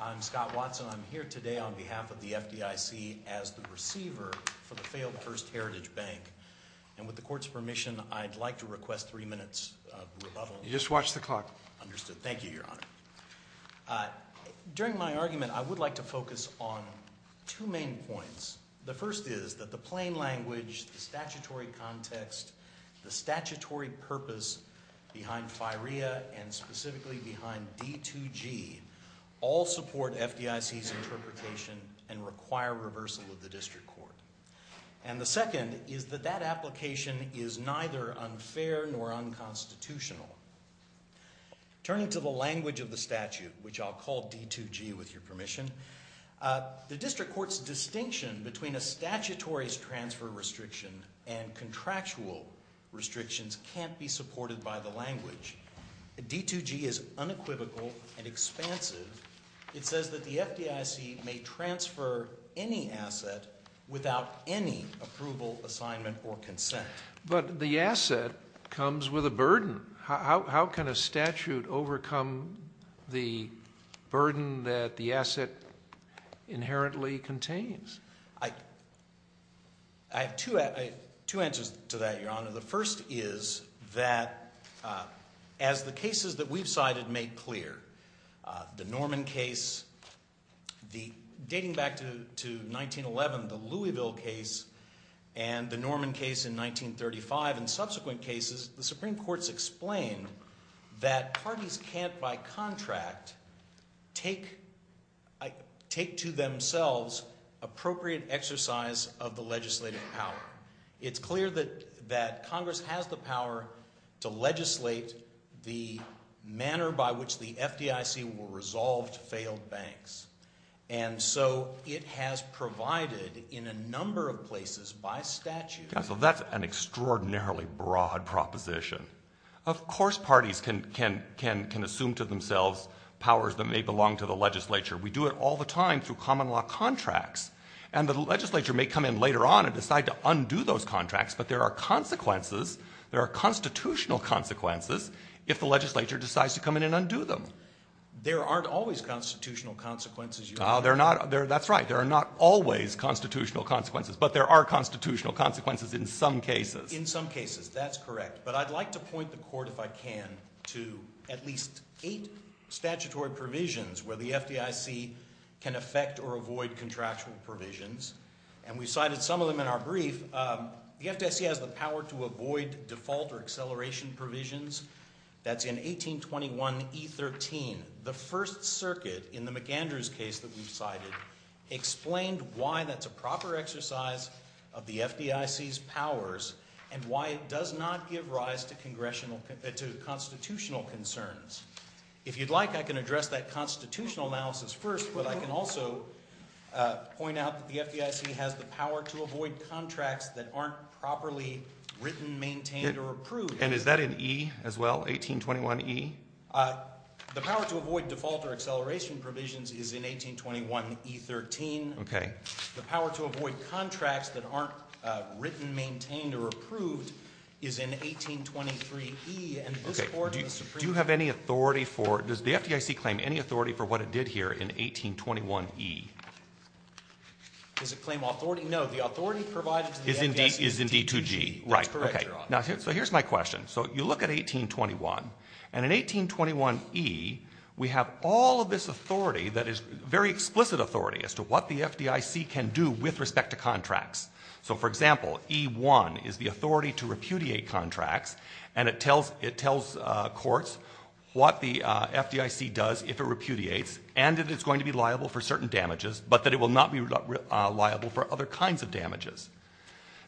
I'm Scott Watson. I'm here today on behalf of the FDIC as the receiver for the failed First Heritage Bank. And with the court's permission, I'd like to request three minutes of rebuttal. You just watched the clock. Understood. Thank you, Your Honor. During my argument, I would like to focus on two main points. The first is that the plain language, the statutory context, the statutory purpose behind FIREA and specifically behind D-2G all support FDIC's interpretation and require reversal of the district court. And the second is that that application is neither unfair nor unconstitutional. Turning to the language of the statute, which I'll call D-2G with your permission, the district court's distinction between a statutory transfer restriction and contractual restrictions can't be supported by the language. D-2G is unequivocal and expansive. It says that the FDIC may transfer any asset without any approval, assignment, or consent. How can a statute overcome the burden that the asset inherently contains? I have two answers to that, Your Honor. The first is that as the cases that we've cited make clear, the Norman case, dating back to 1911, the Louisville case, and the Norman case in 1935 and subsequent cases, the Supreme Court's explained that parties can't, by contract, take to themselves appropriate exercise of the legislative power. It's clear that Congress has the power to legislate the manner by which the FDIC will resolve failed banks. And so it has provided in a number of places by statute. Counsel, that's an extraordinarily broad proposition. Of course parties can assume to themselves powers that may belong to the legislature. We do it all the time through common law contracts. And the legislature may come in later on and decide to undo those contracts, but there are consequences, there are constitutional consequences if the legislature decides to come in and undo them. There aren't always constitutional consequences, Your Honor. That's right. There are not always constitutional consequences, but there are constitutional consequences in some cases. In some cases, that's correct. But I'd like to point the Court, if I can, to at least eight statutory provisions where the FDIC can affect or avoid contractual provisions. And we cited some of them in our brief. The FDIC has the power to avoid default or acceleration provisions. That's in 1821E13. The First Circuit in the McAndrews case that we've cited explained why that's a proper exercise of the FDIC's powers and why it does not give rise to constitutional concerns. If you'd like, I can address that constitutional analysis first, but I can also point out that the FDIC has the power to avoid contracts that aren't properly written, maintained, or approved. And is that in E as well, 1821E? The power to avoid default or acceleration provisions is in 1821E13. Okay. The power to avoid contracts that aren't written, maintained, or approved is in 1823E. Okay. Do you have any authority for it? Does the FDIC claim any authority for what it did here in 1821E? Does it claim authority? No. The authority provided to the FDIC is in D2G. That's correct, Your Honor. So here's my question. So you look at 1821. And in 1821E, we have all of this authority that is very explicit authority as to what the FDIC can do with respect to contracts. So, for example, E1 is the authority to repudiate contracts, and it tells courts what the FDIC does if it repudiates and that it's going to be liable for certain damages, but that it will not be liable for other kinds of damages.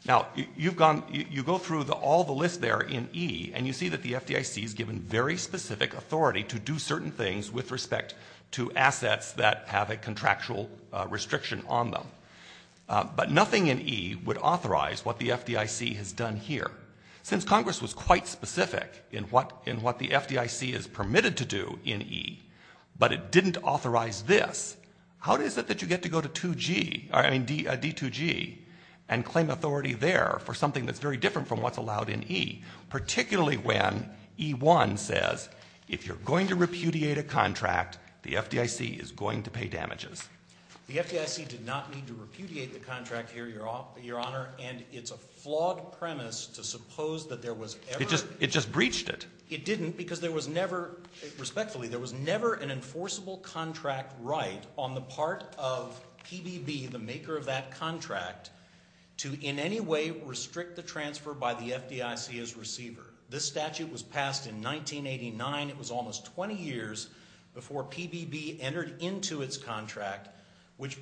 Now, you go through all the lists there in E, and you see that the FDIC is given very specific authority to do certain things with respect to assets that have a contractual restriction on them. But nothing in E would authorize what the FDIC has done here. Since Congress was quite specific in what the FDIC is permitted to do in E, but it didn't authorize this, how is it that you get to go to D2G and claim authority there for something that's very different from what's allowed in E, particularly when E1 says, if you're going to repudiate a contract, the FDIC is going to pay damages? The FDIC did not need to repudiate the contract here, Your Honor, and it's a flawed premise to suppose that there was ever It just breached it. It didn't because there was never, respectfully, there was never an enforceable contract right on the part of PBB, the maker of that contract, to in any way restrict the transfer by the FDIC as receiver. This statute was passed in 1989. It was almost 20 years before PBB entered into its contract, which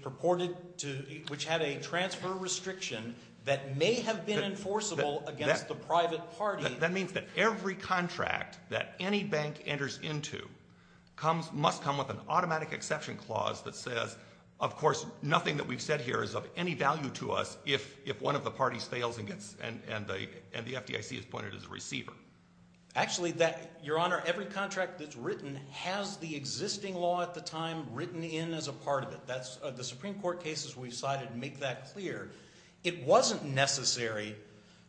had a transfer restriction that may have been enforceable against the private party. That means that every contract that any bank enters into must come with an automatic exception clause that says, of course, nothing that we've said here is of any value to us if one of the parties fails and the FDIC is appointed as a receiver. Actually, Your Honor, every contract that's written has the existing law at the time written in as a part of it. The Supreme Court cases we cited make that clear. It wasn't necessary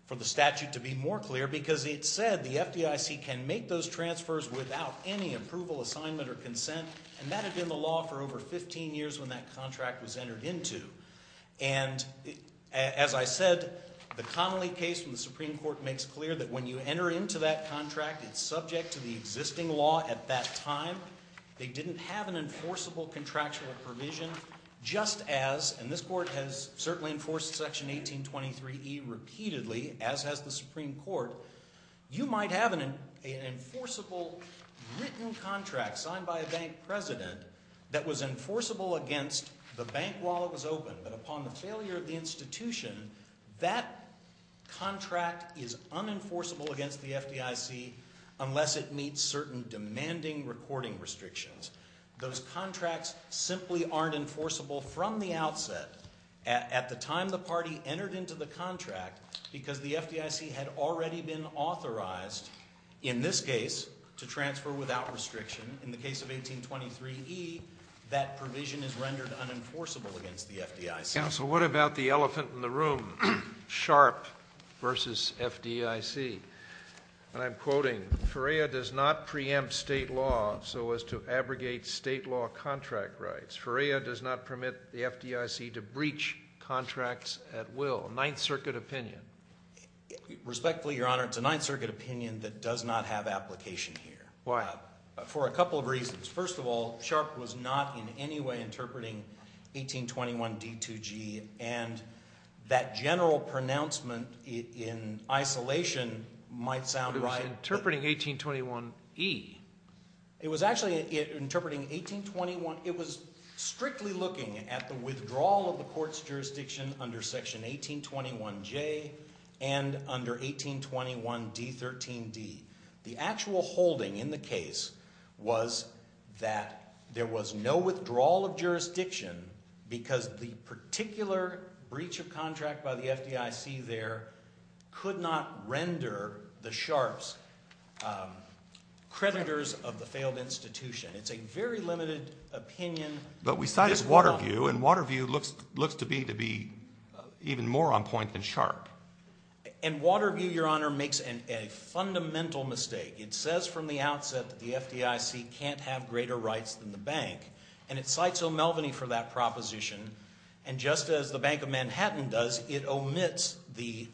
for the statute to be more clear because it said the FDIC can make those transfers without any approval, assignment, or consent, and that had been the law for over 15 years when that contract was entered into. And as I said, the Connolly case from the Supreme Court makes clear that when you enter into that contract, it's subject to the existing law at that time. They didn't have an enforceable contractual provision just as, and this Court has certainly enforced Section 1823E repeatedly, as has the Supreme Court. You might have an enforceable written contract signed by a bank president that was enforceable against the bank while it was open, but upon the failure of the institution, that contract is unenforceable against the FDIC unless it meets certain demanding recording restrictions. Those contracts simply aren't enforceable from the outset. At the time the party entered into the contract, because the FDIC had already been authorized, in this case, to transfer without restriction, in the case of 1823E, that provision is rendered unenforceable against the FDIC. Counsel, what about the elephant in the room, Sharp v. FDIC? And I'm quoting, Ferreira does not preempt state law so as to abrogate state law contract rights. Ferreira does not permit the FDIC to breach contracts at will. Ninth Circuit opinion. Respectfully, Your Honor, it's a Ninth Circuit opinion that does not have application here. Why? For a couple of reasons. First of all, Sharp was not in any way interpreting 1821D2G, and that general pronouncement in isolation might sound right. But it was interpreting 1821E. It was actually interpreting 1821 – it was strictly looking at the withdrawal of the court's jurisdiction under Section 1821J and under 1821D13D. The actual holding in the case was that there was no withdrawal of jurisdiction because the particular breach of contract by the FDIC there could not render the Sharps creditors of the failed institution. It's a very limited opinion. But we cited Waterview, and Waterview looks to be even more on point than Sharp. And Waterview, Your Honor, makes a fundamental mistake. It says from the outset that the FDIC can't have greater rights than the bank, and it cites O'Melveny for that proposition. And just as the Bank of Manhattan does, it omits the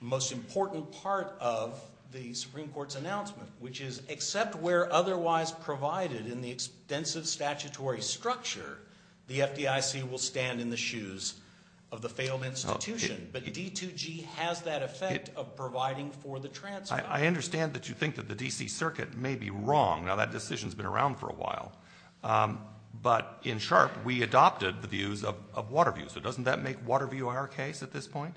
most important part of the Supreme Court's announcement, which is except where otherwise provided in the extensive statutory structure, the FDIC will stand in the shoes of the failed institution. But D2G has that effect of providing for the transfer. I understand that you think that the D.C. Circuit may be wrong. Now, that decision's been around for a while. But in Sharp, we adopted the views of Waterview. So doesn't that make Waterview our case at this point?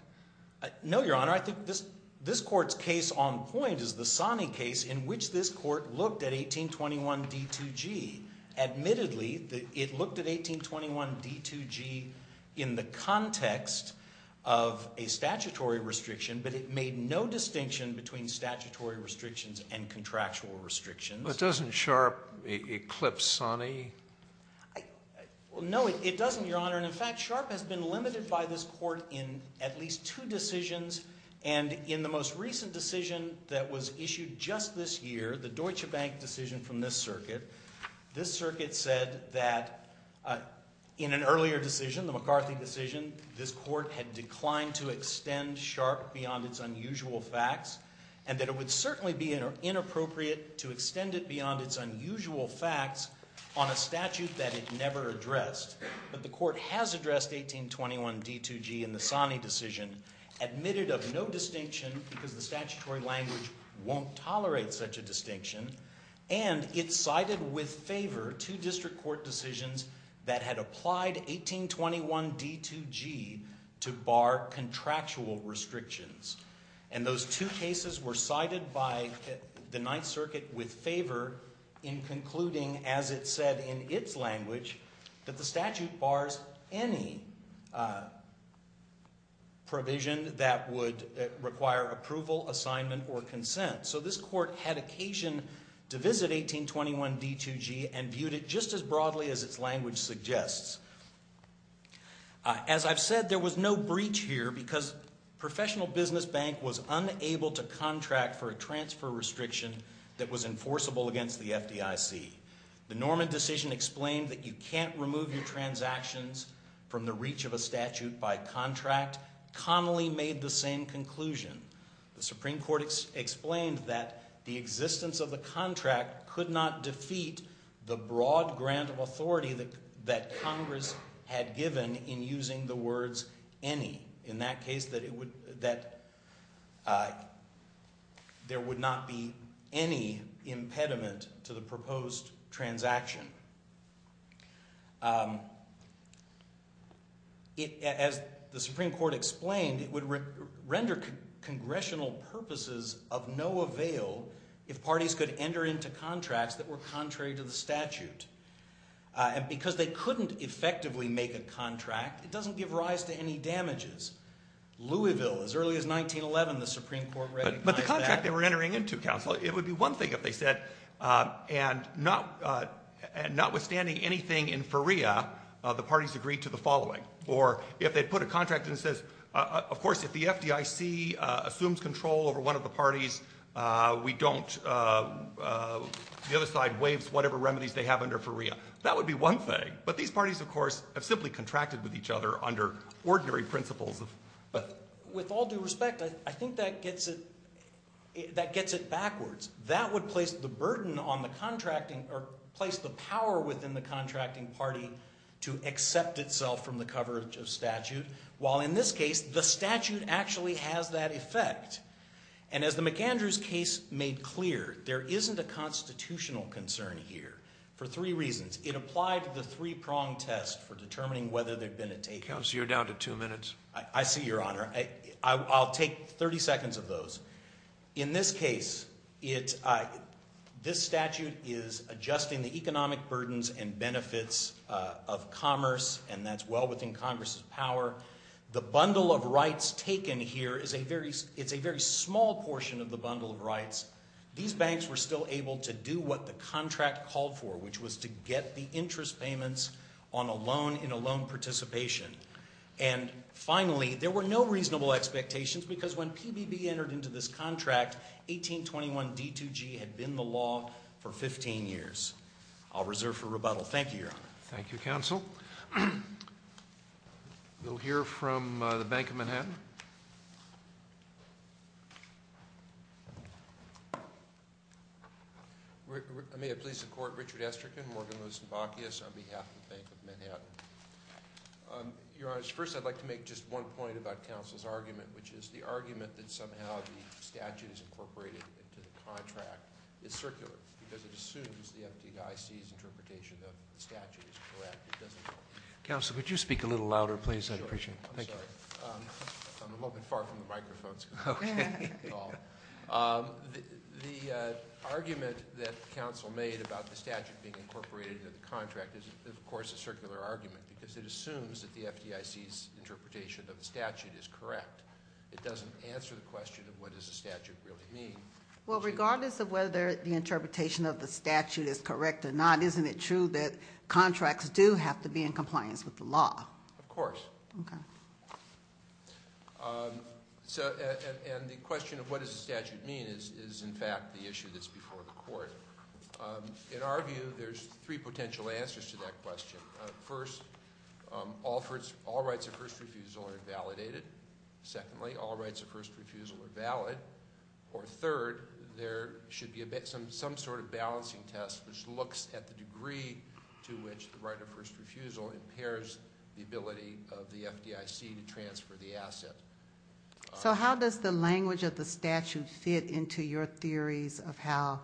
No, Your Honor. I think this Court's case on point is the Sonny case in which this Court looked at 1821D2G. Admittedly, it looked at 1821D2G in the context of a statutory restriction, but it made no distinction between statutory restrictions and contractual restrictions. But doesn't Sharp eclipse Sonny? Your Honor, in fact, Sharp has been limited by this Court in at least two decisions. And in the most recent decision that was issued just this year, the Deutsche Bank decision from this circuit, this circuit said that in an earlier decision, the McCarthy decision, this Court had declined to extend Sharp beyond its unusual facts, and that it would certainly be inappropriate to extend it beyond its unusual facts on a statute that it never addressed. But the Court has addressed 1821D2G in the Sonny decision, admitted of no distinction because the statutory language won't tolerate such a distinction, and it cited with favor two district court decisions that had applied 1821D2G to bar contractual restrictions. And those two cases were cited by the Ninth Circuit with favor in concluding, as it said in its language, that the statute bars any provision that would require approval, assignment, or consent. So this Court had occasion to visit 1821D2G and viewed it just as broadly as its language suggests. As I've said, there was no breach here because Professional Business Bank was unable to contract for a transfer restriction that was enforceable against the FDIC. The Norman decision explained that you can't remove your transactions from the reach of a statute by contract. Connolly made the same conclusion. The Supreme Court explained that the existence of the contract could not defeat the broad grant of authority that Congress had given in using the words any, in that case that there would not be any impediment to the proposed transaction. As the Supreme Court explained, it would render congressional purposes of no avail if parties could enter into contracts that were contrary to the statute. And because they couldn't effectively make a contract, it doesn't give rise to any damages. Louisville, as early as 1911, the Supreme Court recognized that. It would be one thing if they said, and notwithstanding anything in FERIA, the parties agreed to the following. Or if they'd put a contract in that says, of course, if the FDIC assumes control over one of the parties, we don't, the other side waives whatever remedies they have under FERIA. That would be one thing. But these parties, of course, have simply contracted with each other under ordinary principles. With all due respect, I think that gets it backwards. That would place the burden on the contracting, or place the power within the contracting party to accept itself from the coverage of statute. While in this case, the statute actually has that effect. And as the McAndrews case made clear, there isn't a constitutional concern here for three reasons. It applied the three-prong test for determining whether there'd been a takeover. Mr. Counsel, you're down to two minutes. I see, Your Honor. I'll take 30 seconds of those. In this case, this statute is adjusting the economic burdens and benefits of commerce, and that's well within Congress's power. The bundle of rights taken here is a very small portion of the bundle of rights. These banks were still able to do what the contract called for, which was to get the interest payments on a loan in a loan participation. And finally, there were no reasonable expectations because when PBB entered into this contract, 1821 D2G had been the law for 15 years. I'll reserve for rebuttal. Thank you, Your Honor. Thank you, Counsel. We'll hear from the Bank of Manhattan. May it please the Court, Richard Esterkin, Morgan Lewis, and Bacchius on behalf of the Bank of Manhattan. Your Honor, first I'd like to make just one point about Counsel's argument, which is the argument that somehow the statute is incorporated into the contract is circular because it assumes the FDIC's interpretation of the statute is correct. Counsel, could you speak a little louder, please? I'd appreciate it. I'm sorry. I'm a little bit far from the microphones. The argument that Counsel made about the statute being incorporated into the contract is, of course, a circular argument because it assumes that the FDIC's interpretation of the statute is correct. It doesn't answer the question of what does the statute really mean. Well, regardless of whether the interpretation of the statute is correct or not, isn't it true that contracts do have to be in compliance with the law? Of course. Okay. And the question of what does the statute mean is, in fact, the issue that's before the Court. In our view, there's three potential answers to that question. First, all rights of first refusal are validated. Secondly, all rights of first refusal are valid. Or third, there should be some sort of balancing test which looks at the degree to which the right of first refusal impairs the ability of the FDIC to transfer the asset. So how does the language of the statute fit into your theories of how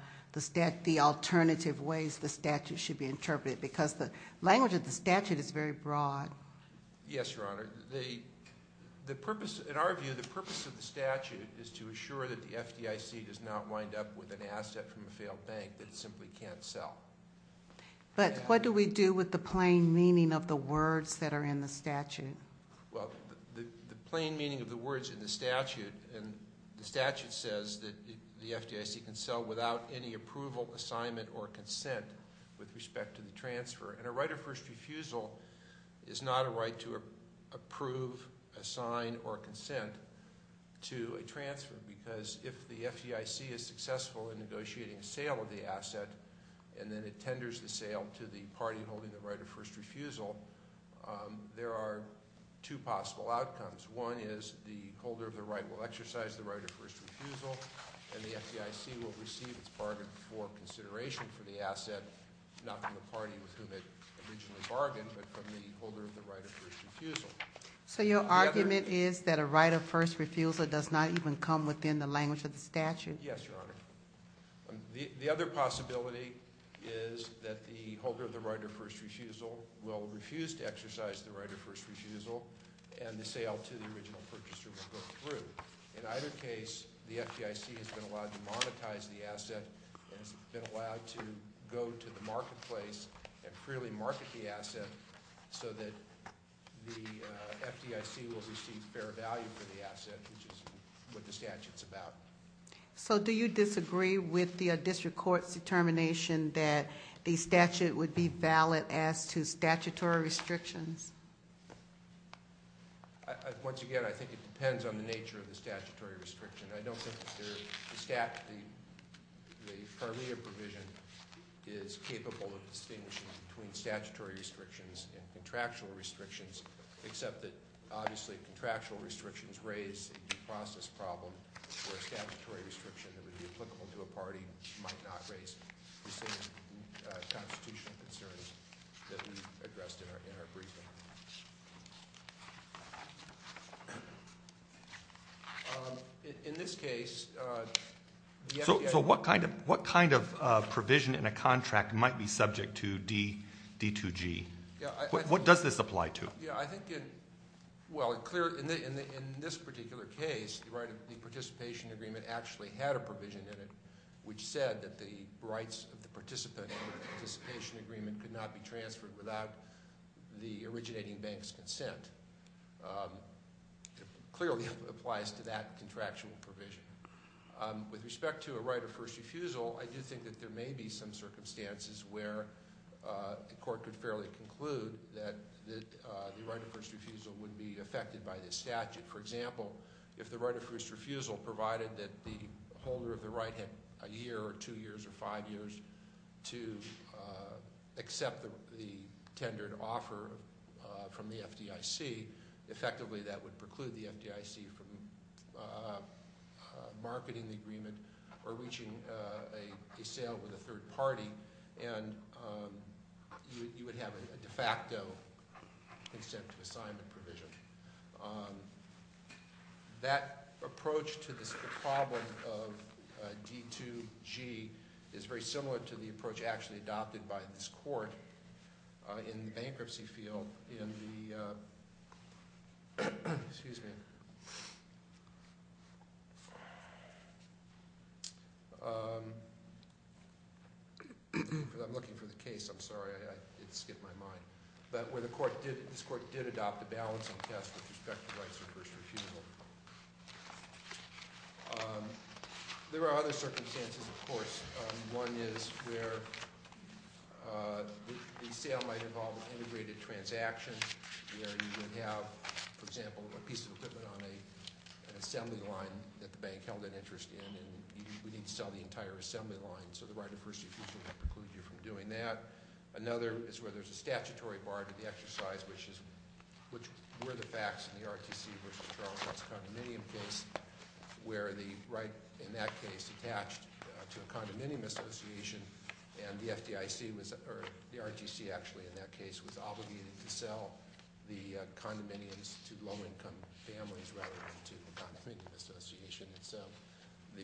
the alternative ways the statute should be interpreted? Because the language of the statute is very broad. Yes, Your Honor. In our view, the purpose of the statute is to assure that the FDIC does not wind up with an asset from a failed bank that it simply can't sell. But what do we do with the plain meaning of the words that are in the statute? Well, the plain meaning of the words in the statute, and the statute says that the FDIC can sell without any approval, assignment, or consent with respect to the transfer. And a right of first refusal is not a right to approve, assign, or consent to a transfer. Because if the FDIC is successful in negotiating sale of the asset, and then it tenders the sale to the party holding the right of first refusal, there are two possible outcomes. One is the holder of the right will exercise the right of first refusal, and the FDIC will receive its bargain for consideration for the asset, not from the party with whom it originally bargained, but from the holder of the right of first refusal. So your argument is that a right of first refusal does not even come within the language of the statute? Yes, Your Honor. The other possibility is that the holder of the right of first refusal will refuse to exercise the right of first refusal, and the sale to the original purchaser will go through. In either case, the FDIC has been allowed to monetize the asset, and has been allowed to go to the marketplace and freely market the asset, so that the FDIC will receive fair value for the asset, which is what the statute's about. So do you disagree with the district court's determination that the statute would be valid as to statutory restrictions? Once again, I think it depends on the nature of the statutory restriction. I don't think the statute, the CARMEA provision, is capable of distinguishing between statutory restrictions and contractual restrictions, except that, obviously, contractual restrictions raise a due process problem, where a statutory restriction that would be applicable to a party might not raise the same constitutional concerns that we addressed in our briefing. In this case, the FDIC— So what kind of provision in a contract might be subject to D2G? What does this apply to? I think it—well, in this particular case, the participation agreement actually had a provision in it which said that the rights of the participant in the participation agreement could not be transferred without the originating bank's consent. It clearly applies to that contractual provision. With respect to a right of first refusal, I do think that there may be some circumstances where a court could fairly conclude that the right of first refusal would be affected by this statute. For example, if the right of first refusal provided that the holder of the right had a year or two years or five years to accept the tendered offer from the FDIC, effectively that would preclude the FDIC from marketing the agreement or reaching a sale with a third party, and you would have a de facto consent to assignment provision. That approach to the problem of D2G is very similar to the approach actually adopted by this court in the bankruptcy field in the— I'm looking for the case. I'm sorry. It skipped my mind. But where this court did adopt a balancing test with respect to rights of first refusal. There are other circumstances, of course. One is where the sale might involve an integrated transaction where you would have, for example, a piece of equipment on an assembly line that the bank held an interest in and we need to sell the entire assembly line. So the right of first refusal might preclude you from doing that. Another is where there's a statutory bar to the exercise, which were the facts in the ROTC versus the Charleston condominium case where the right in that case attached to a condominium association and the ROTC actually in that case was obligated to sell the condominiums to low-income families rather than to a condominium association. The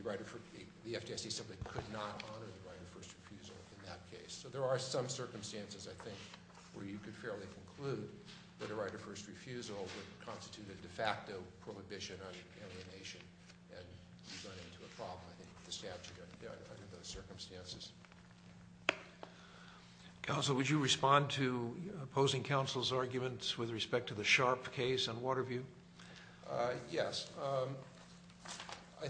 FDIC simply could not honor the right of first refusal in that case. So there are some circumstances, I think, where you could fairly conclude that a right of first refusal would constitute a de facto prohibition on alienation and you run into a problem, I think, with the statute under those circumstances. Counsel, would you respond to opposing counsel's arguments with respect to the Sharpe case on Waterview? Yes. I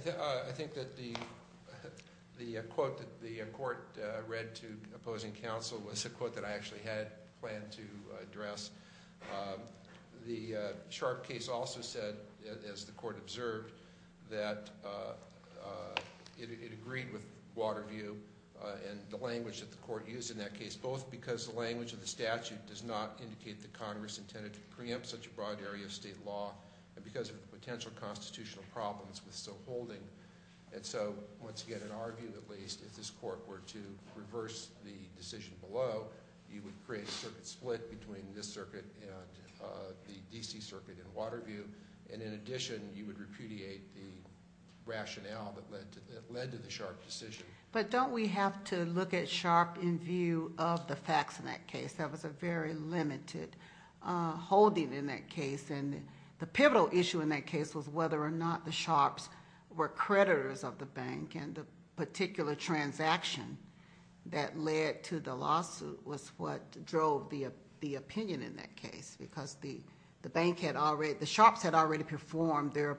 think that the quote that the court read to opposing counsel was a quote that I actually had planned to address. The Sharpe case also said, as the court observed, that it agreed with Waterview and the language that the court used in that case, both because the language of the statute does not indicate that Congress intended to preempt such a broad area of state law and because of the potential constitutional problems with so holding. And so, once again, in our view at least, if this court were to reverse the decision below, you would create a circuit split between this circuit and the D.C. circuit in Waterview. And in addition, you would repudiate the rationale that led to the Sharpe decision. But don't we have to look at Sharpe in view of the facts in that case? That was a very limited holding in that case. And the pivotal issue in that case was whether or not the Sharpes were creditors of the bank and the particular transaction that led to the lawsuit was what drove the opinion in that case because the Sharpes had already performed their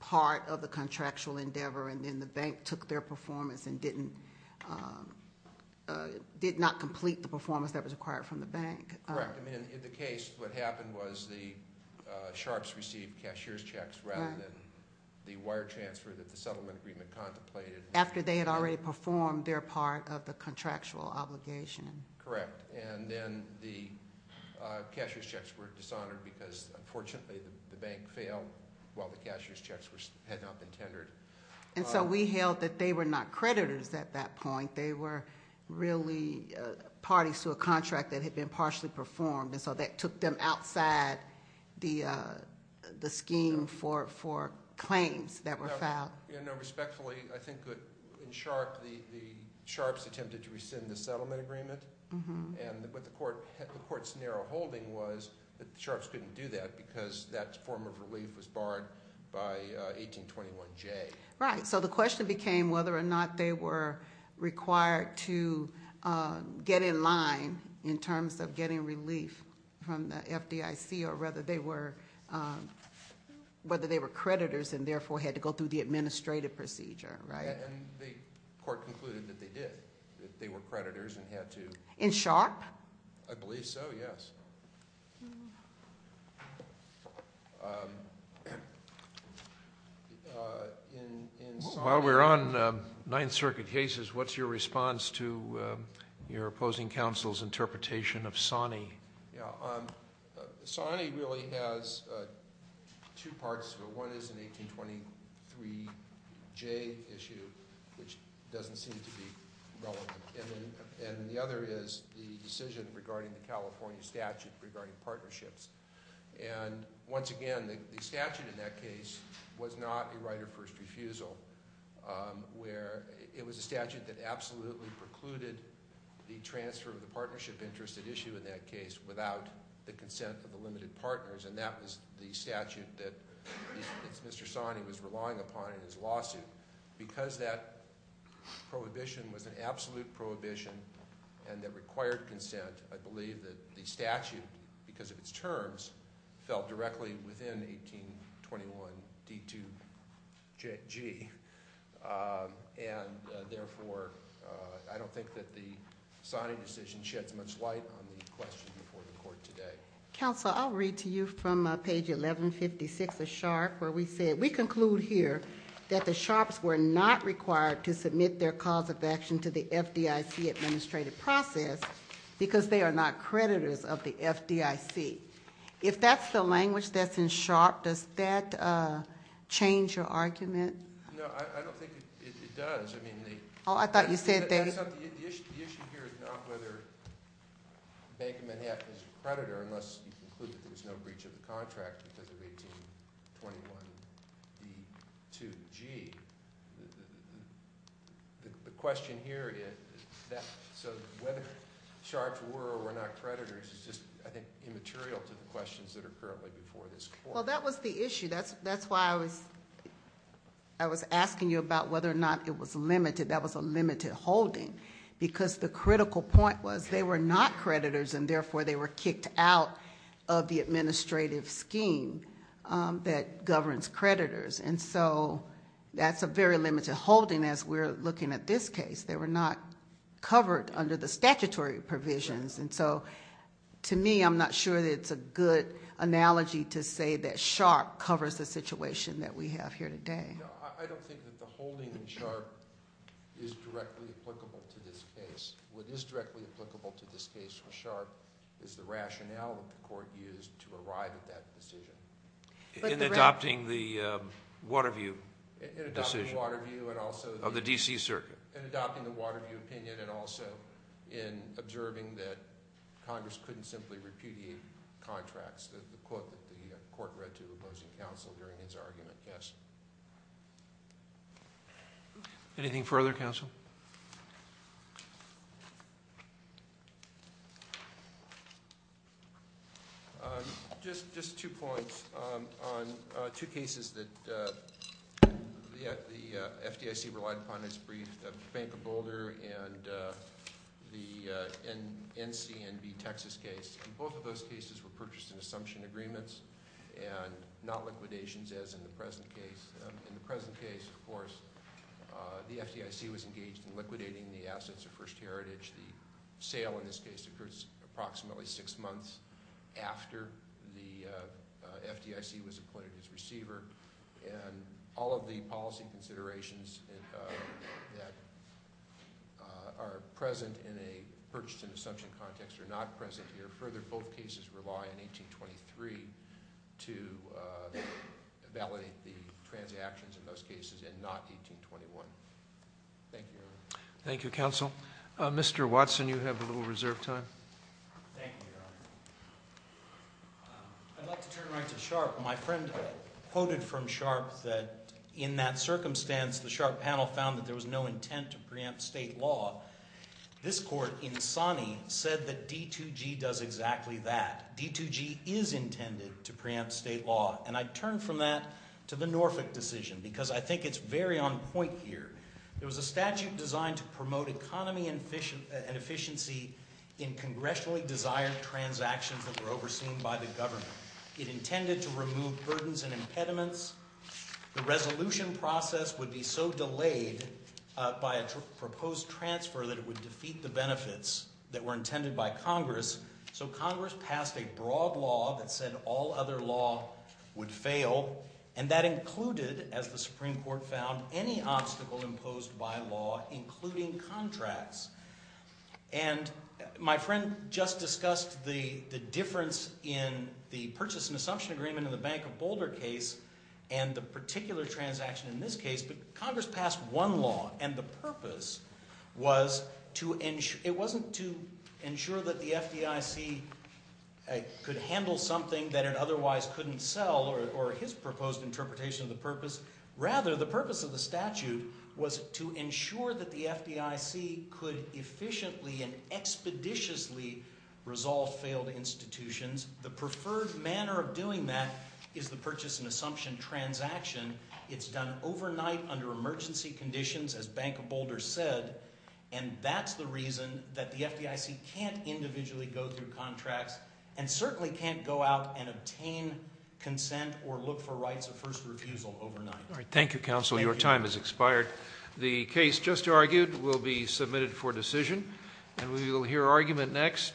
part of the contractual endeavor and then the bank took their performance and did not complete the performance that was required from the bank. Correct. In the case, what happened was the Sharpes received cashier's checks rather than the wire transfer that the settlement agreement contemplated. After they had already performed their part of the contractual obligation. Correct. And then the cashier's checks were dishonored because, unfortunately, the bank failed while the cashier's checks had not been tendered. And so we held that they were not creditors at that point. They were really parties to a contract that had been partially performed. And so that took them outside the scheme for claims that were filed. Respectfully, I think that in Sharpe, the Sharpes attempted to rescind the settlement agreement. But the court's narrow holding was that the Sharpes couldn't do that because that form of relief was barred by 1821J. Right. So the question became whether or not they were required to get in line in terms of getting relief from the FDIC or whether they were creditors and therefore had to go through the administrative procedure. And the court concluded that they did, that they were creditors and had to. In Sharpe? I believe so, yes. While we're on Ninth Circuit cases, what's your response to your opposing counsel's interpretation of Sawney? Sawney really has two parts to it. One is an 1823J issue, which doesn't seem to be relevant. And the other is the decision regarding the California statute regarding partnerships. And once again, the statute in that case was not a right of first refusal. It was a statute that absolutely precluded the transfer of the partnership interest at issue in that case without the consent of the limited partners. And that was the statute that Mr. Sawney was relying upon in his lawsuit. Because that prohibition was an absolute prohibition and that required consent, I believe that the statute, because of its terms, fell directly within 1821D2G. And therefore, I don't think that the signing decision sheds much light on the question before the court today. Counsel, I'll read to you from page 1156 of Sharpe where we say, we conclude here that the Sharpes were not required to submit their cause of action to the FDIC administrative process because they are not creditors of the FDIC. If that's the language that's in Sharpe, does that change your argument? No, I don't think it does. I mean the- Oh, I thought you said they- The issue here is not whether Bank of Manhattan is a creditor unless you conclude that there's no breach of the contract because of 1821D2G. The question here, so whether Sharpes were or were not creditors, is just, I think, immaterial to the questions that are currently before this court. Well, that was the issue. That's why I was asking you about whether or not it was limited. That was a limited holding because the critical point was they were not creditors and therefore they were kicked out of the administrative scheme that governs creditors. And so, that's a very limited holding as we're looking at this case. They were not covered under the statutory provisions. And so, to me, I'm not sure that it's a good analogy to say that Sharpe covers the situation that we have here today. No, I don't think that the holding in Sharpe is directly applicable to this case. What is directly applicable to this case for Sharpe is the rationale that the court used to arrive at that decision. In adopting the Waterview decision of the D.C. Circuit. In adopting the Waterview opinion and also in observing that Congress couldn't simply repudiate contracts, the quote that the court read to opposing counsel during his argument, yes. Anything further, counsel? Just two points. On two cases that the FDIC relied upon in its brief, the Bank of Boulder and the NCNB Texas case. Both of those cases were purchased in assumption agreements and not liquidations as in the present case. In the present case, of course, the FDIC was engaged in liquidating the assets of First Heritage. The sale in this case occurred approximately six months after the FDIC was appointed as receiver. And all of the policy considerations that are present in a purchase in assumption context are not present here. Further, both cases rely on 1823 to validate the transactions in those cases and not 1821. Thank you. Thank you, counsel. Mr. Watson, you have a little reserve time. Thank you, Your Honor. I'd like to turn right to Sharpe. My friend quoted from Sharpe that in that circumstance, the Sharpe panel found that there was no intent to preempt state law. This court, Insani, said that D2G does exactly that. D2G is intended to preempt state law. And I turn from that to the Norfolk decision because I think it's very on point here. There was a statute designed to promote economy and efficiency in congressionally desired transactions that were overseen by the government. It intended to remove burdens and impediments. The resolution process would be so delayed by a proposed transfer that it would defeat the benefits that were intended by Congress. So Congress passed a broad law that said all other law would fail. And that included, as the Supreme Court found, any obstacle imposed by law, including contracts. And my friend just discussed the difference in the purchase and assumption agreement in the Bank of Boulder case and the particular transaction in this case. But Congress passed one law, and the purpose was to ensure – it wasn't to ensure that the FDIC could handle something that it otherwise couldn't sell or his proposed interpretation of the purpose. Rather, the purpose of the statute was to ensure that the FDIC could efficiently and expeditiously resolve failed institutions. The preferred manner of doing that is the purchase and assumption transaction. It's done overnight under emergency conditions, as Bank of Boulder said. And that's the reason that the FDIC can't individually go through contracts and certainly can't go out and obtain consent or look for rights of first refusal overnight. Thank you, counsel. Your time has expired. The case just argued will be submitted for decision, and we will hear argument next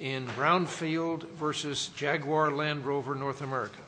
in Brownfield v. Jaguar Land Rover, North America.